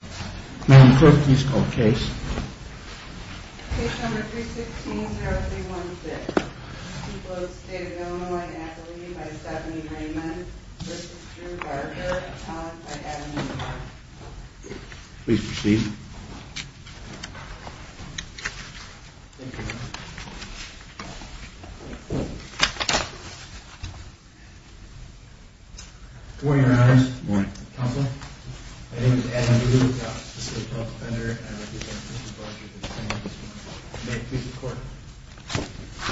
May I have the clerk please call the case? Case number 316-0316. People of the State of Illinois and Appalachia by Stephanie Raymond v. Drew Barger, Atomic by Adam Newton. Please proceed. Good morning, Your Honors. Good morning. Counselor, my name is Adam Newton. I'm a specific health defender and I represent Mr. Barger, the defendant in this one. May it please the court.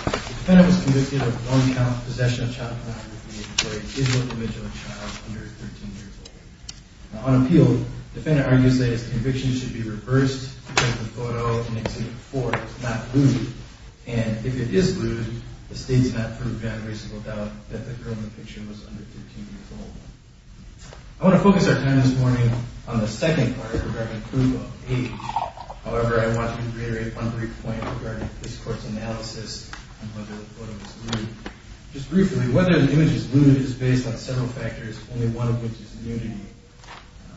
The defendant was convicted of non-count possession of child pornography of a disabled individual and child under 13 years old. On appeal, the defendant argues that his conviction should be reversed because the photo in exhibit 4 is not lewd. And if it is lewd, the State has not proved beyond reasonable doubt that the girl in the picture was under 13 years old. I want to focus our time this morning on the second part regarding proof of age. However, I want to reiterate one brief point regarding this court's analysis on whether the photo is lewd. Just briefly, whether the image is lewd is based on several factors, only one of which is nudity,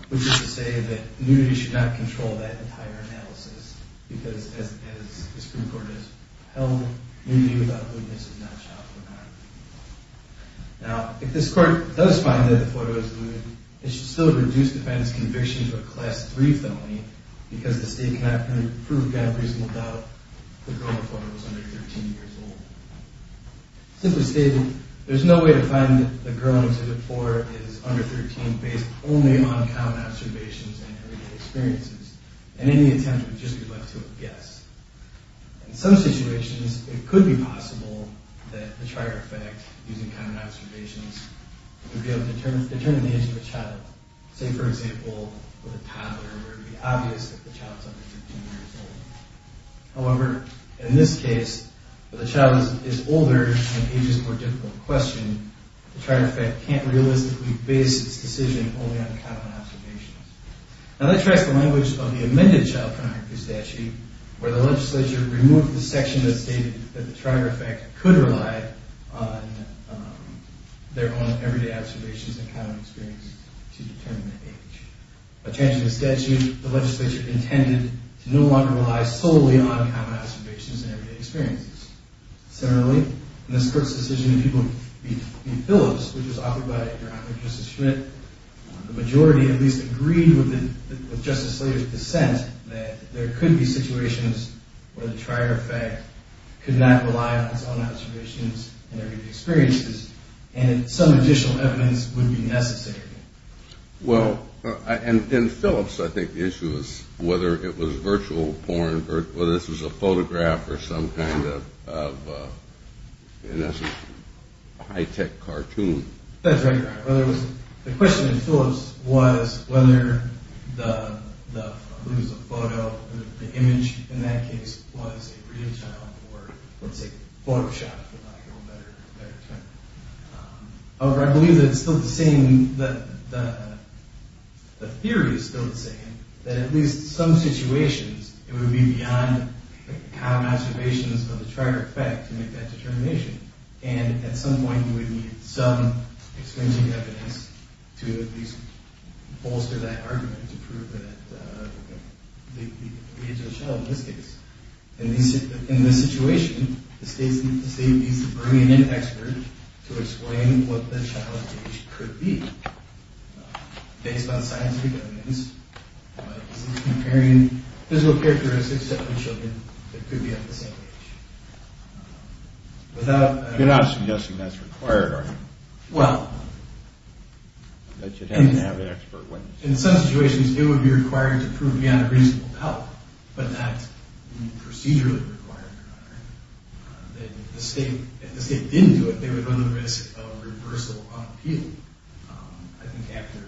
which is to say that nudity should not control that entire analysis because as the Supreme Court has held, nudity without lewdness is not child pornography. Now, if this court does find that the photo is lewd, it should still reduce the defendant's conviction to a Class III felony because the State cannot prove beyond reasonable doubt that the girl in the photo was under 13 years old. Simply stated, there is no way to find that the girl in exhibit 4 is under 13 based only on common observations and everyday experiences. And any attempt would just be left to a guess. In some situations, it could be possible that the trier effect, using common observations, would be able to determine the age of a child. Say, for example, with a toddler where it would be obvious that the child is under 15 years old. However, in this case, where the child is older and age is more difficult to question, the trier effect can't realistically base its decision only on common observations. Now, let's trace the language of the amended child pornography statute where the legislature removed the section that stated that the trier effect could rely on their own everyday observations and common experiences to determine the age. By changing the statute, the legislature intended to no longer rely solely on common observations and everyday experiences. Similarly, in this court's decision in Peoples v. Phillips, which was offered by Your Honor Justice Schmidt, the majority at least agreed with Justice Slater's dissent that there could be situations where the trier effect could not rely on its own observations and everyday experiences and that some additional evidence would be necessary. Well, in Phillips, I think the issue is whether it was virtual porn, whether this was a photograph or some kind of high-tech cartoon. That's right, Your Honor. The question in Phillips was whether the photo, the image in that case, was a real child or, let's say, photoshopped, for lack of a better term. However, I believe that it's still the same, the theory is still the same, that at least in some situations, it would be beyond common observations of the trier effect to make that determination. And at some point, you would need some extensive evidence to at least bolster that argument to prove that the age of the child in this case. In this situation, the state needs to bring in an expert to explain what the child's age could be. Based on scientific evidence, comparing physical characteristics of children that could be of the same age. You're not suggesting that's required, are you? Well, in some situations, it would be required to prove beyond a reasonable doubt, but not procedurally required, Your Honor. If the state didn't do it, they would run the risk of reversal on appeal. I think after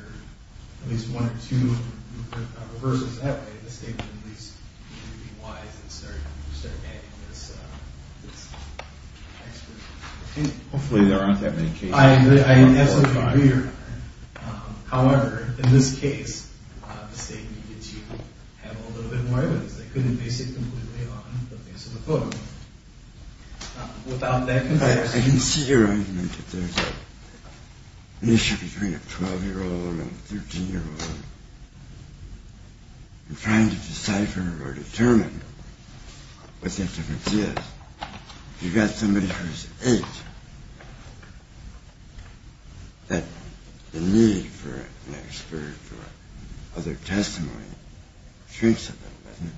at least one or two reversals that way, the state would at least be wise and start adding this expert. Hopefully there aren't that many cases. I absolutely agree, Your Honor. However, in this case, the state needed to have a little bit more evidence. They couldn't base it completely on the base of the photo. I can see your argument that there's an issue between a 12-year-old and a 13-year-old. I'm trying to decipher or determine what that difference is. If you've got somebody who's 8, the need for an expert or other testimony shrinks a little bit, doesn't it?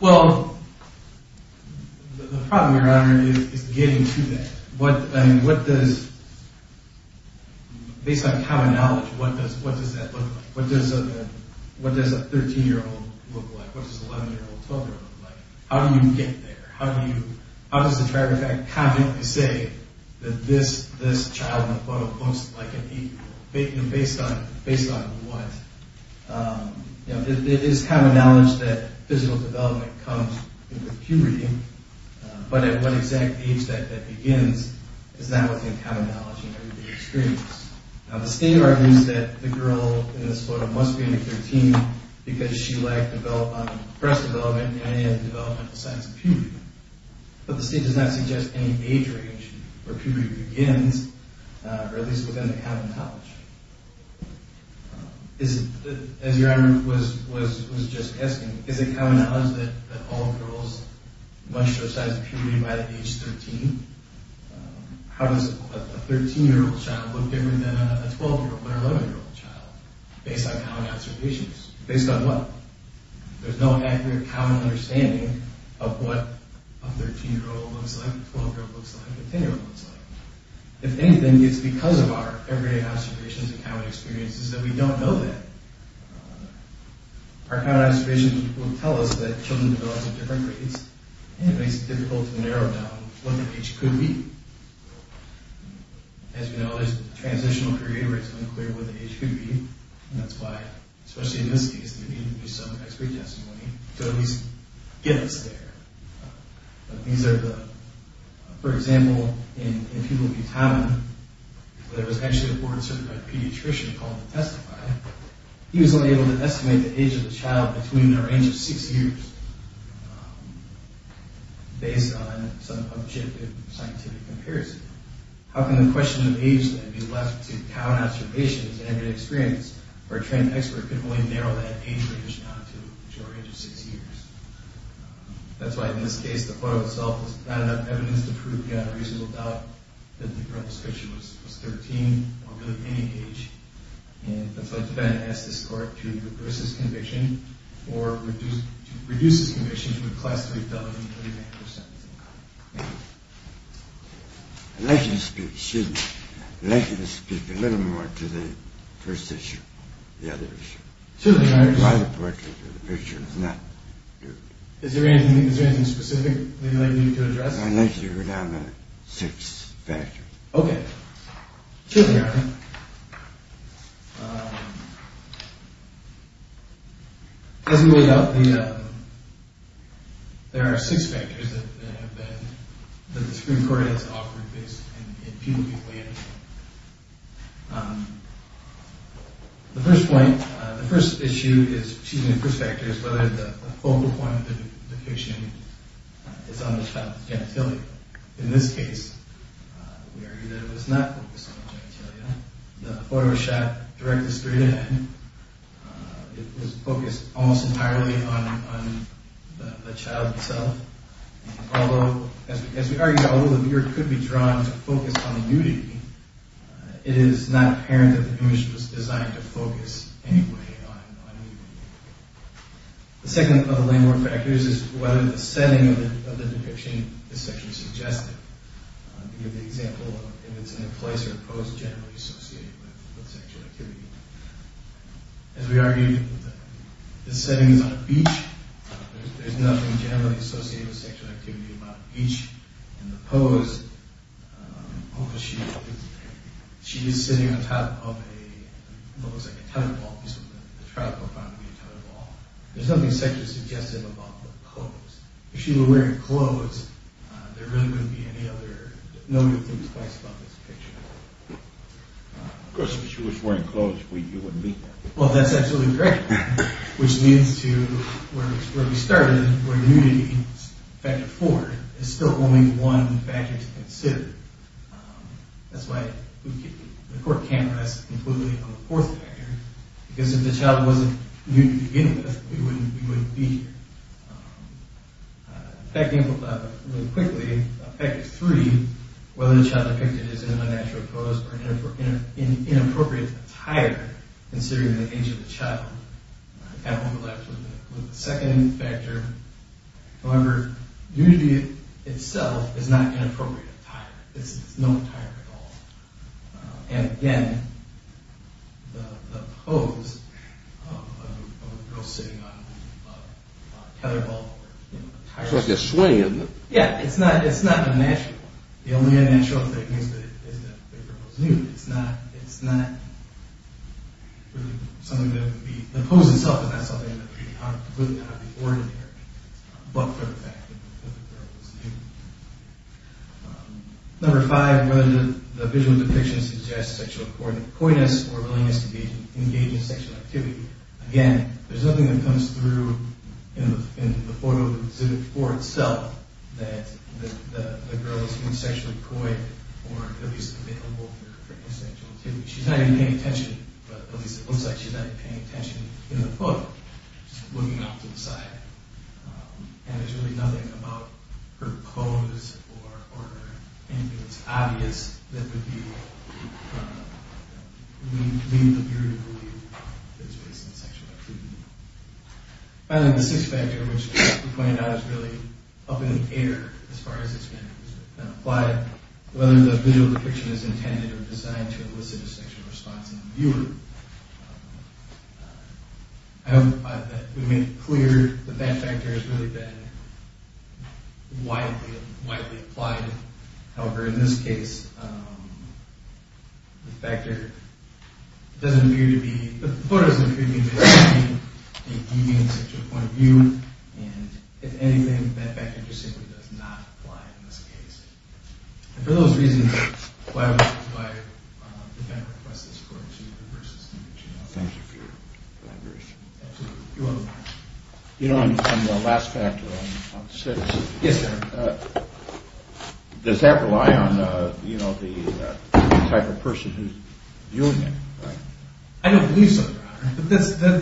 Well, the problem, Your Honor, is getting to that. Based on common knowledge, what does that look like? What does a 13-year-old look like? What does an 11-year-old or a 12-year-old look like? How do you get there? How does the tragic fact comment per se that this child in the photo looks like an 8-year-old? Based on what? It is common knowledge that physical development comes with puberty, but at what exact age that that begins is not within common knowledge in everybody's experience. Now, the state argues that the girl in this photo must be under 13 because she lagged on breast development and developmental signs of puberty. But the state does not suggest any age range where puberty begins, or at least within the common knowledge. As Your Honor was just asking, is it common knowledge that all girls must show signs of puberty by the age of 13? How does a 13-year-old child look different than a 12-year-old or 11-year-old child? Based on common observations. Based on what? There's no accurate common understanding of what a 13-year-old looks like, a 12-year-old looks like, a 10-year-old looks like. If anything, it's because of our everyday observations and common experiences that we don't know that. Our common observations will tell us that children develop at different rates, and it makes it difficult to narrow down what the age could be. As you know, there's transitional period where it's unclear what the age could be, and that's why, especially in this case, there needs to be some expert testimony to at least get us there. For example, in Pueblo, Utah, there was actually a board-certified pediatrician called the TESTIFY. He was only able to estimate the age of the child between the range of 6 years, based on some objective scientific comparison. How can the question of age then be left to common observations and experience, where a trained expert can only narrow that age range down to a majority of 6 years? That's why, in this case, the quote itself was not enough evidence to prove beyond a reasonable doubt that the child's description was 13 or below any age. And that's why it's better to ask this court to reverse this conviction or to reduce this conviction to a classically valid 39 percent. Thank you. I'd like you to speak a little more to the first issue, the other issue. It's quite important, but the picture is not good. Is there anything specific that you'd like me to address? I'd like you to go down the six factors. Okay. Here they are. As we laid out, there are six factors that the Supreme Court has offered in pubic planning. The first point, the first issue, excuse me, the first factor, is whether the focal point of the conviction is on the child's genitalia. In this case, we argue that it was not focused on the genitalia. The photo was shot directly straight ahead. It was focused almost entirely on the child itself. Although, as we argued, although the viewer could be drawn to focus on the nudity, it is not apparent that the image was designed to focus anyway on nudity. The second of the landmark factors is whether the setting of the depiction is sexually suggestive. To give the example of if it's in a place or a pose generally associated with sexual activity. As we argued, the setting is on a beach. There's nothing generally associated with sexual activity on a beach. In the pose, she is sitting on top of a, what looks like a tenor ball, because the child was found to be a tenor ball. There's nothing sexually suggestive about the pose. If she were wearing clothes, there really wouldn't be any other, no new things placed about this picture. Of course, if she was wearing clothes, you wouldn't be there. Well, that's absolutely correct, which leads to where we started, where nudity, factor four, is still only one factor to consider. That's why the court can't rest completely on the fourth factor, because if the child wasn't nudity to begin with, we wouldn't be here. Effectively, really quickly, factor three, whether the child depicted is in a natural pose or in inappropriate attire, considering the age of the child. Kind of overlaps with the second factor. However, nudity itself is not an inappropriate attire. It's no attire at all. And again, the pose of a girl sitting on a tenor ball or attire... It's like a swing, isn't it? Yeah, it's not a natural one. The only unnatural thing is that the girl is nude. It's not something that would be... The pose itself is not something that would be ordinary, but for the fact that the girl is nude. Number five, whether the visual depiction suggests sexual coyness or willingness to be engaged in sexual activity. Again, there's nothing that comes through in the photo exhibit for itself that the girl is being sexually coy or at least available for sexual activity. She's not even paying attention, but at least it looks like she's not even paying attention in the photo. She's looking off to the side. And there's really nothing about her pose or anything that's obvious that would lead the viewer to believe that it's based on sexual activity. Finally, the sixth factor, which we pointed out is really up in the air as far as it's been applied. Whether the visual depiction is intended or designed to elicit a sexual response in the viewer. I hope that we made it clear that that factor has really been widely applied. However, in this case, the factor doesn't appear to be... It deviates at your point of view, and if anything, that factor just simply does not apply in this case. And for those reasons, why would we apply the fact request that's according to the person's image? Thank you for your clarification. Absolutely. You're welcome, Your Honor. You know, on the last factor, on six, does that rely on the type of person who's viewing it? I don't believe so, Your Honor. But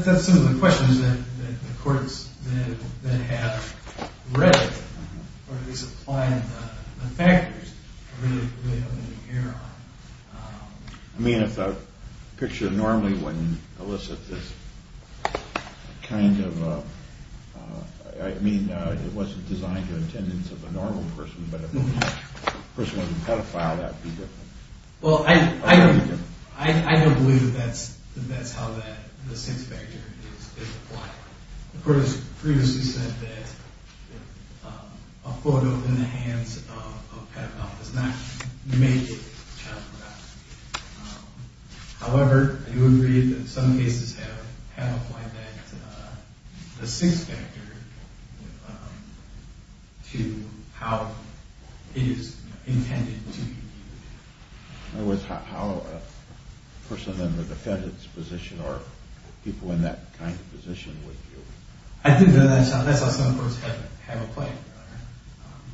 that's some of the questions that the courts then have read, or at least applied the factors really up in the air on. I mean, if the picture normally wouldn't elicit this kind of... I mean, it wasn't designed to the attendance of a normal person, but if the person wasn't pedophile, that would be different. Well, I don't believe that that's how the sixth factor is applied. The court has previously said that a photo in the hands of a pedophile does not make it child pornography. However, I do agree that some cases have applied the sixth factor to how it is intended to be viewed. In other words, how a person in the defendant's position or people in that kind of position would view it. I think that's how some courts have applied it, Your Honor.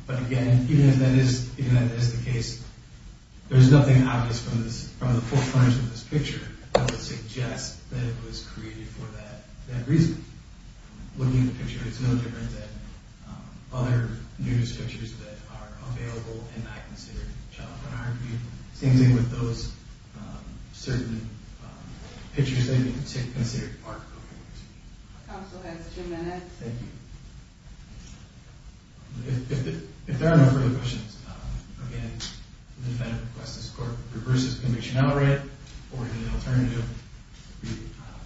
But again, even if that is the case, there's nothing obvious from the forefront of this picture that would suggest that it was created for that reason. Looking at the picture, it's no different than other nudist pictures that are available and not considered child pornography. Same thing with those certain pictures that are considered art. Counsel has two minutes. Thank you. If there are no further questions, again, the defendant requests this court reverse his conviction outright, or in an alternative,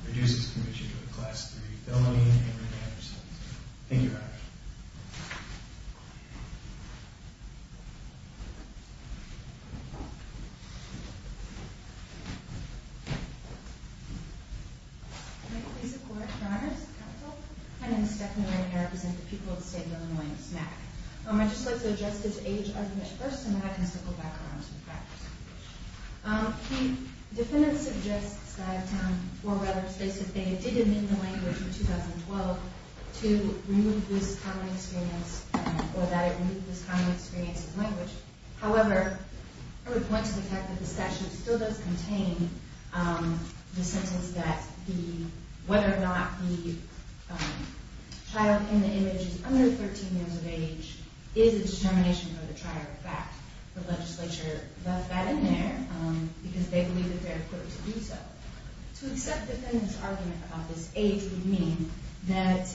reduce his conviction to a Class III felony and remand or sentence. Thank you, Your Honor. May it please the Court, Your Honors. Counsel. My name is Stephanie Ryan, and I represent the people of the state of Illinois in this matter. I'd just like to address this age argument first, and then I can circle back around to the facts. The defendant suggests that, or rather states that they did amend the language in 2012 to remove this common experience, or that it removed this common experience of language. However, I would point to the fact that the statute still does contain the sentence that whether or not the child in the image is under 13 years of age is a determination for the trier of fact. The legislature left that in there because they believe it's fair for it to do so. To accept the defendant's argument about this age would mean that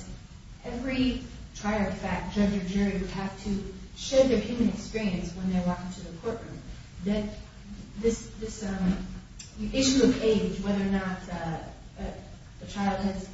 every trier of fact, judge or jury, would have to share their human experience when they walk into the courtroom. This issue of age, whether or not the child has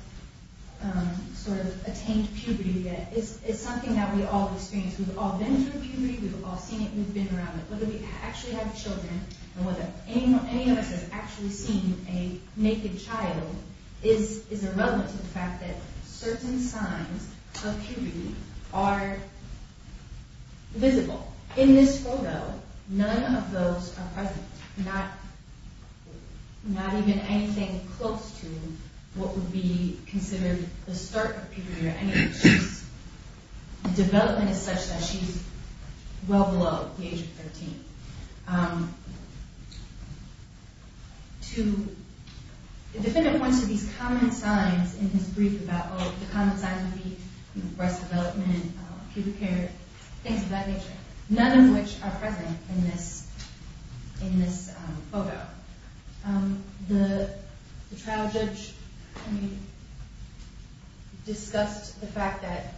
attained puberty, is something that we've all experienced. We've all been through puberty. We've all seen it. We've been around it. Whether we actually have children and whether any of us has actually seen a naked child is irrelevant to the fact that certain signs of puberty are visible. In this photo, none of those are present. Not even anything close to what would be considered the start of puberty or anything. The development is such that she's well below the age of 13. The defendant points to these common signs in his brief about breast development, puberty, things of that nature. None of which are present in this photo. The trial judge discussed the fact that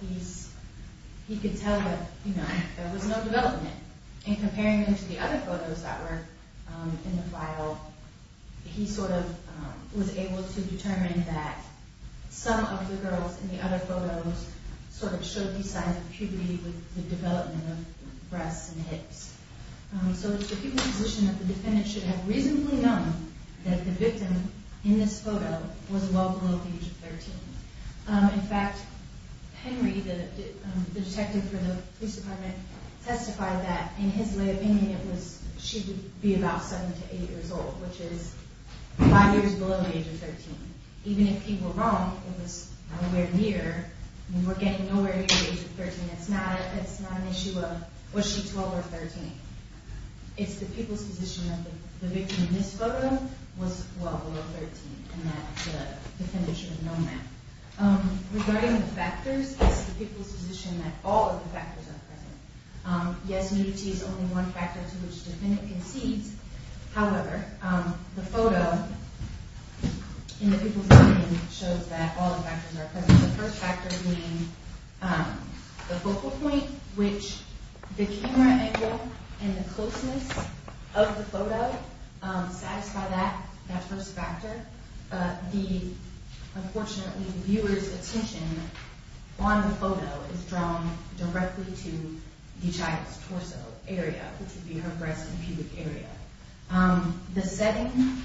he could tell that there was no development. In comparing them to the other photos that were in the trial, he was able to determine that some of the girls in the other photos showed these signs of puberty with the development of breasts and hips. So it's the human position that the defendant should have reasonably known that the victim in this photo was well below the age of 13. In fact, Henry, the detective for the police department, testified that in his opinion she would be about 7 to 8 years old, which is 5 years below the age of 13. Even if he were wrong, it was nowhere near. We're getting nowhere near the age of 13. It's not an issue of was she 12 or 13. It's the people's position that the victim in this photo was well below 13 and that the defendant should have known that. Regarding the factors, it's the people's position that all of the factors are present. Yes, nudity is only one factor to which the defendant concedes. However, the photo in the people's opinion shows that all of the factors are present. The first factor being the focal point, which the camera angle and the closeness of the photo satisfy that first factor. Unfortunately, the viewer's attention on the photo is drawn directly to the child's torso area, which would be her breast and pubic area. The second,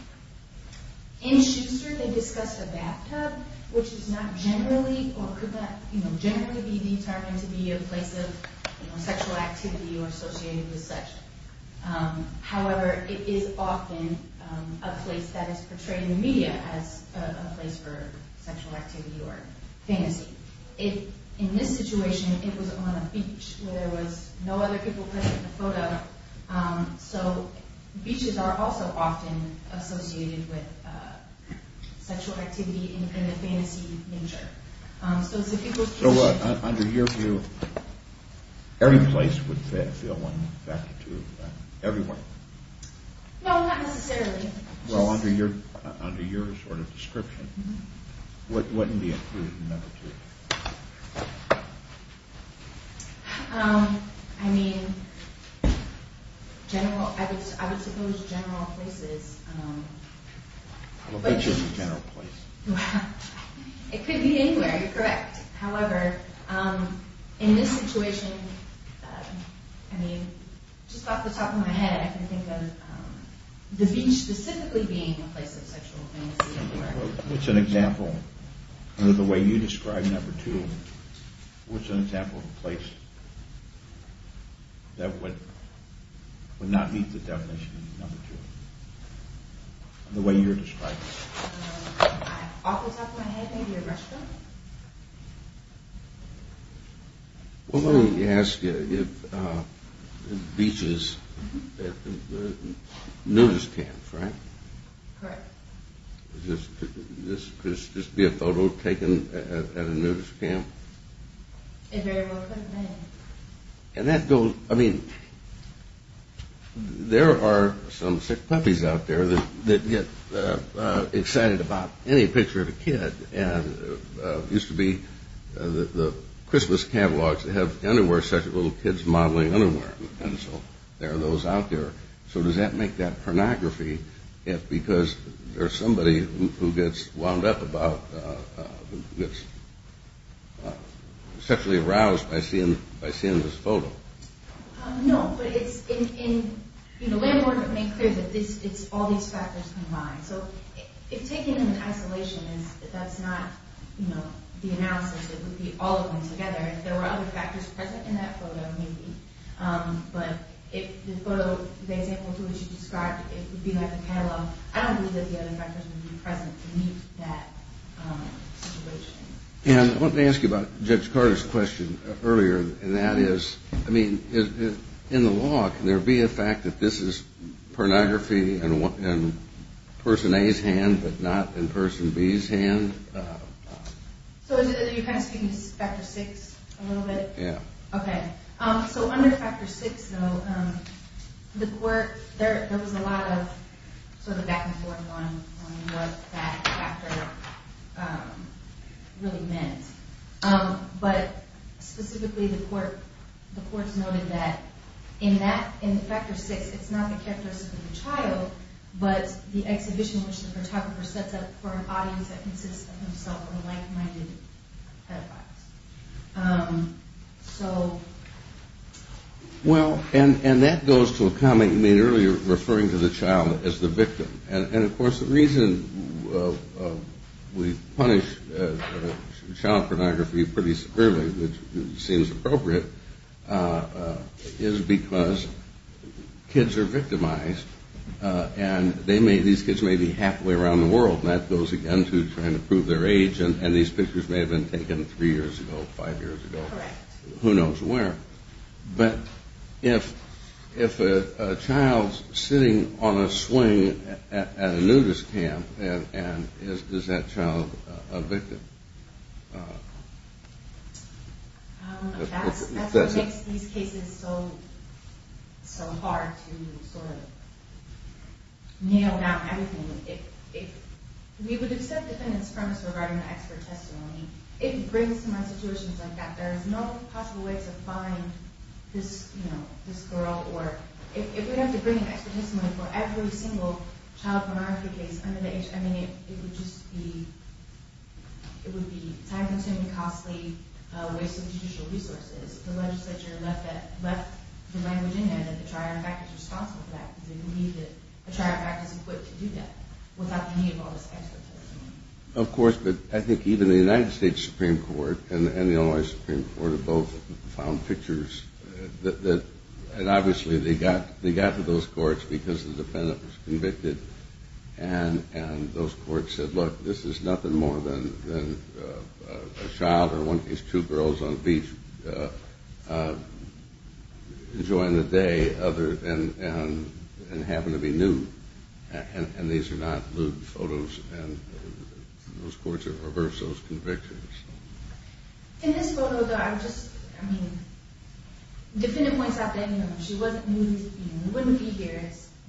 in Schuster they discussed a bathtub, which is not generally or could not generally be determined to be a place of sexual activity or associated with such. However, it is often a place that is portrayed in the media as a place for sexual activity or fantasy. In this situation, it was on a beach where there was no other people present in the photo. So, beaches are also often associated with sexual activity in the fantasy nature. So, it's the people's position... So, under your view, every place would fail one factor to everyone? No, not necessarily. Well, under your sort of description, what would be included in number two? I mean, I would suppose general places. I don't think it's a general place. It could be anywhere, you're correct. However, in this situation, I mean, just off the top of my head, I can think of the beach specifically being a place of sexual fantasy. What's an example, under the way you describe number two, what's an example of a place that would not meet the definition of number two? The way you're describing it. Off the top of my head, maybe a restaurant? Well, let me ask you, if beaches, nudist camps, right? Correct. Could this just be a photo taken at a nudist camp? It very well couldn't be. And that goes, I mean, there are some sick puppies out there that get excited about any picture of a kid. And it used to be the Christmas catalogs that have underwear such as little kids modeling underwear. And so, there are those out there. So, does that make that pornography if because there's somebody who gets wound up about, gets sexually aroused by seeing this photo? No, but it's in a way more to make clear that it's all these factors combined. So, if taken in isolation, that's not the analysis. It would be all of them together. If there were other factors present in that photo, maybe. But if the photo, the example that you described, it would be like a catalog. I don't believe that the other factors would be present to meet that situation. And let me ask you about Judge Carter's question earlier. And that is, I mean, in the law, can there be a fact that this is pornography in person A's hand but not in person B's hand? So, you're kind of speaking to this factor six a little bit? Yeah. Okay. So, under factor six, though, the court, there was a lot of sort of back and forth on what that factor really meant. But specifically, the court noted that in factor six, it's not the characteristic of the child, but the exhibition which the photographer sets up for an audience that consists of himself or like-minded pedophiles. So. Well, and that goes to a comment you made earlier referring to the child as the victim. And, of course, the reason we punish child pornography pretty severely, which seems appropriate, is because kids are victimized. And they may, these kids may be halfway around the world. And that goes, again, to trying to prove their age. And these pictures may have been taken three years ago, five years ago. Correct. Who knows where. But if a child's sitting on a swing at a nudist camp, and is that child a victim? I don't know. That's what makes these cases so hard to sort of nail down everything. If we would accept defendant's premise regarding the expert testimony, it brings to mind situations like that. There is no possible way to find this, you know, this girl. Or if we have to bring an expert testimony for every single child pornography case under the age, I mean, it would just be, it would be time-consuming, costly, a waste of judicial resources. If the legislature left the language in there that the child, in fact, is responsible for that, then we need a trial practice in place to do that without the need of all this expert testimony. Of course. But I think even the United States Supreme Court and the Illinois Supreme Court have both found pictures that, and obviously they got to those courts because the defendant was convicted. And those courts said, look, this is nothing more than a child or one of these two girls on the beach enjoying the day other than having to be nude. And these are not nude photos, and those courts have reversed those convictions. In this photo, though, I just, I mean, defendant points out that, you know, she wasn't nude, you know,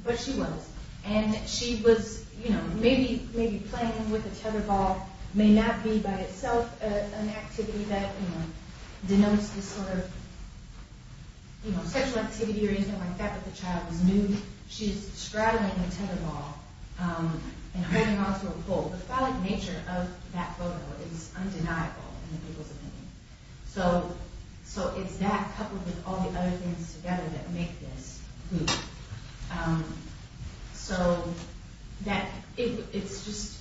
but she was. And she was, you know, maybe playing with a tether ball may not be by itself an activity that, you know, denotes this sort of, you know, sexual activity or anything like that, but the child was nude. She's straddling a tether ball and holding onto a pole. The phallic nature of that photo is undeniable in the people's opinion. So it's that coupled with all the other things together that make this nude. So that it's just,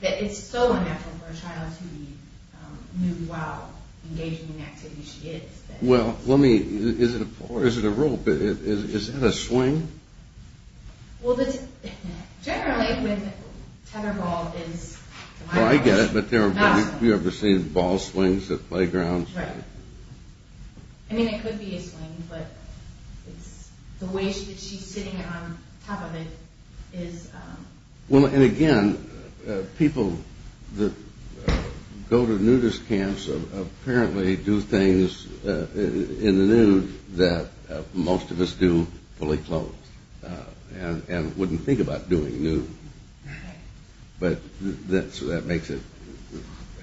that it's so unnatural for a child to be nude while engaging in the activity she is. Well, let me, is it a rope? Is that a swing? Well, generally with tether ball is. Well, I get it, but have you ever seen ball swings at playgrounds? Right. I mean, it could be a swing, but it's the way that she's sitting on top of it is. Well, and again, people that go to nudist camps apparently do things in the nude that most of us do fully clothed and wouldn't think about doing nude. But that's what that makes it.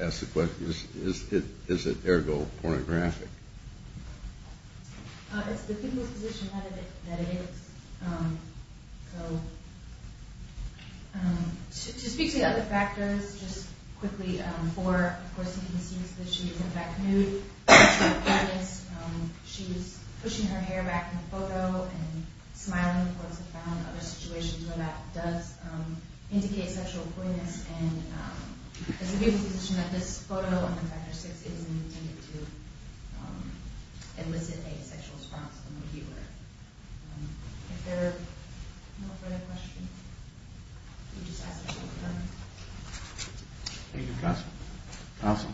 Ask the question, is it ergo pornographic? It's the people's position that it is. So to speak to the other factors, just quickly, for, of course, you can see that she is in fact nude. She's pushing her hair back in the photo and smiling, of course, and found other situations where that does indicate sexual poyness. And it's the people's position that this photo on the factor six isn't intended to elicit a sexual response from the viewer. If there are no further questions, we just ask that we be done. Thank you. Awesome.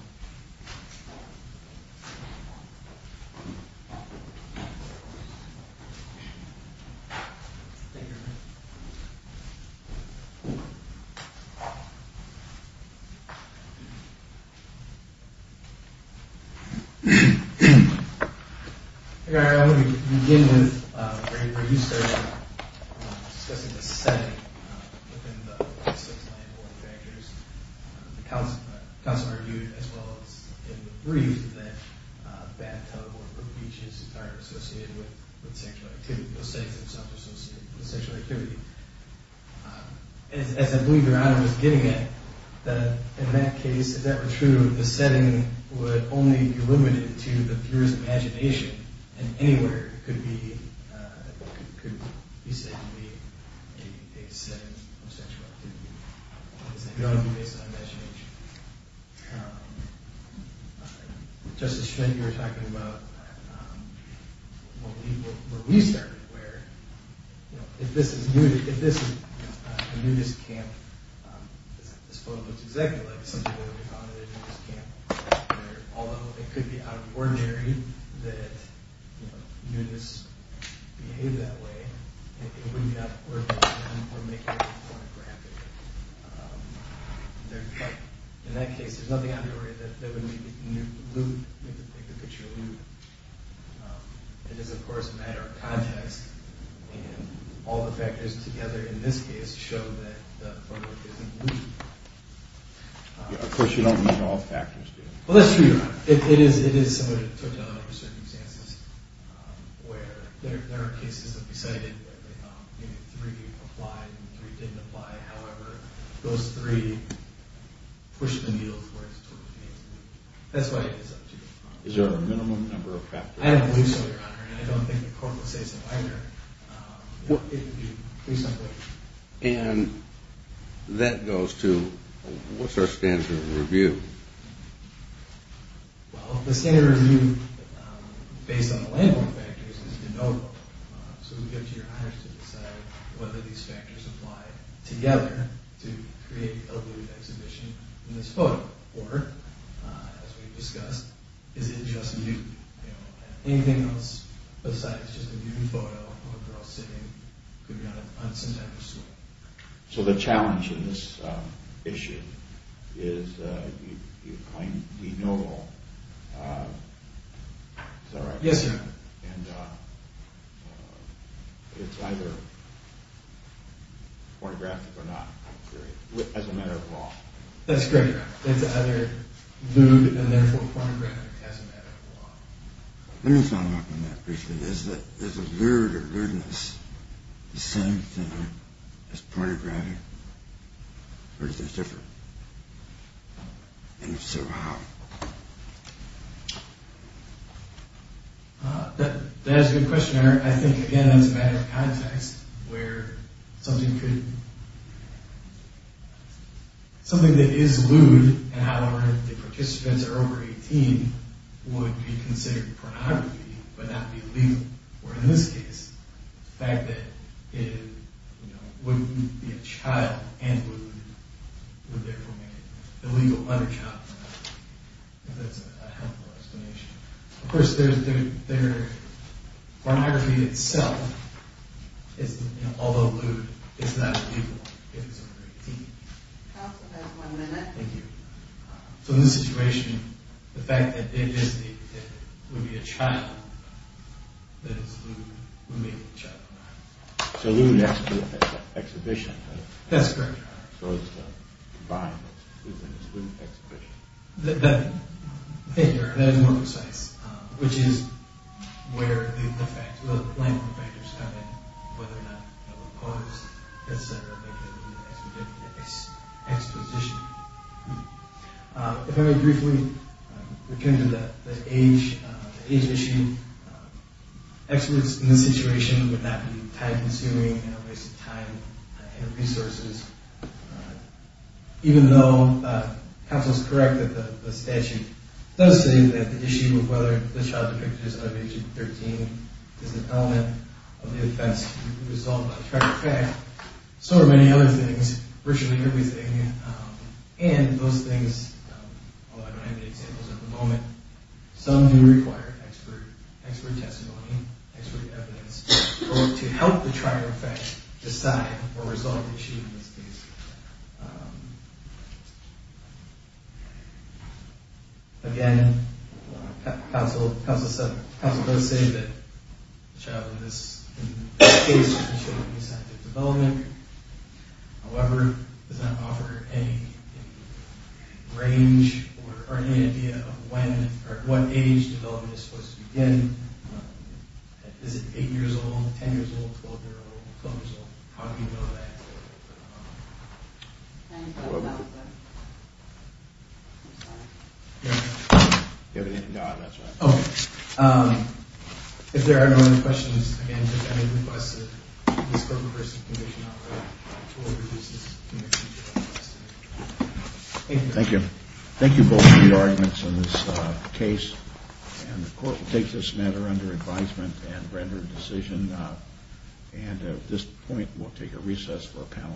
Thank you. I'm going to begin with where you started discussing the setting within the six main porn factors. The counselor argued, as well as in the brief, that bathtub or beach is entirely associated with sexual activity. As I believe your item was getting at, in that case, if that were true, the setting would only be limited to the viewer's imagination. And anywhere could be said to be a setting of sexual activity. It's not based on imagination. Justice Schmidt, you were talking about where we started, where if this is a nudist camp, this photo looks exactly like a nudist camp. Although it could be out of ordinary that nudists behave that way, it wouldn't be out of ordinary that they were making a pornographic. In that case, there's nothing out of ordinary that would make the picture nude. It is, of course, a matter of context. And all the factors together in this case show that the photo isn't nude. Of course, you don't need all factors, do you? Well, that's true. It is somebody who took down under certain circumstances where there are cases that we cited where three applied and three didn't apply. However, those three pushed the needle where it's supposed to be. That's why it is up to you. Is there a minimum number of factors? I don't believe so, Your Honor. And I don't think the court would say so either. It would be reasonably. And that goes to what's our standard of review? Well, the standard of review, based on the labeling factors, is de novo. So it's up to Your Honor to decide whether these factors apply together to create a nude exhibition in this photo. Or, as we've discussed, is it just nude? Anything else besides just a nude photo of a girl sitting could be an unscientific school. So the challenge in this issue is you claim de novo. Is that right? Yes, Your Honor. And it's either pornographic or not, I'm afraid, as a matter of law. That's correct. It's either nude and therefore pornographic as a matter of law. Let me follow up on that briefly. Is a lewd or lewdness the same thing as pornographic? Or is it different? And if so, how? That's a good question, Your Honor. I think, again, that's a matter of context where something that is lewd and however the participants are over 18 would be considered pornography, but not be legal. Or in this case, the fact that it wouldn't be a child and lewd would therefore make it illegal under child pornography. I think that's a helpful explanation. Of course, pornography itself, although lewd, is not illegal if it's over 18. Counsel has one minute. Thank you. So in this situation, the fact that it would be a child that is lewd would make it child pornography. So lewdness is an exhibition. That's correct, Your Honor. So it's a combined lewdness, lewd exhibition. That is more precise, which is where the language factors come in, whether or not it will cause, et cetera, a lewd exposition. If I may briefly return to the age issue, experts in this situation would not be time-consuming and a waste of time and resources. Even though counsel is correct that the statute does say that the issue of whether the child depicted is under the age of 13 is an element of the offense resolved by the trier effect, so are many other things, virtually everything. And those things, although I don't have any examples at the moment, some do require expert testimony, expert evidence, to help the trier effect decide or resolve the issue in this case. Again, counsel does say that the child in this case should be subject to development. However, it does not offer any range or any idea of when or at what age development is supposed to begin. Is it 8 years old, 10 years old, 12 years old, how do you know that? If there are no other questions, again, I request that this government-versus-the-commission operate toward reducing the future of this case. Thank you. Thank you both for your arguments on this case. And the court will take this matter under advisement and render a decision. And at this point, we'll take a recess for questions. Thank you.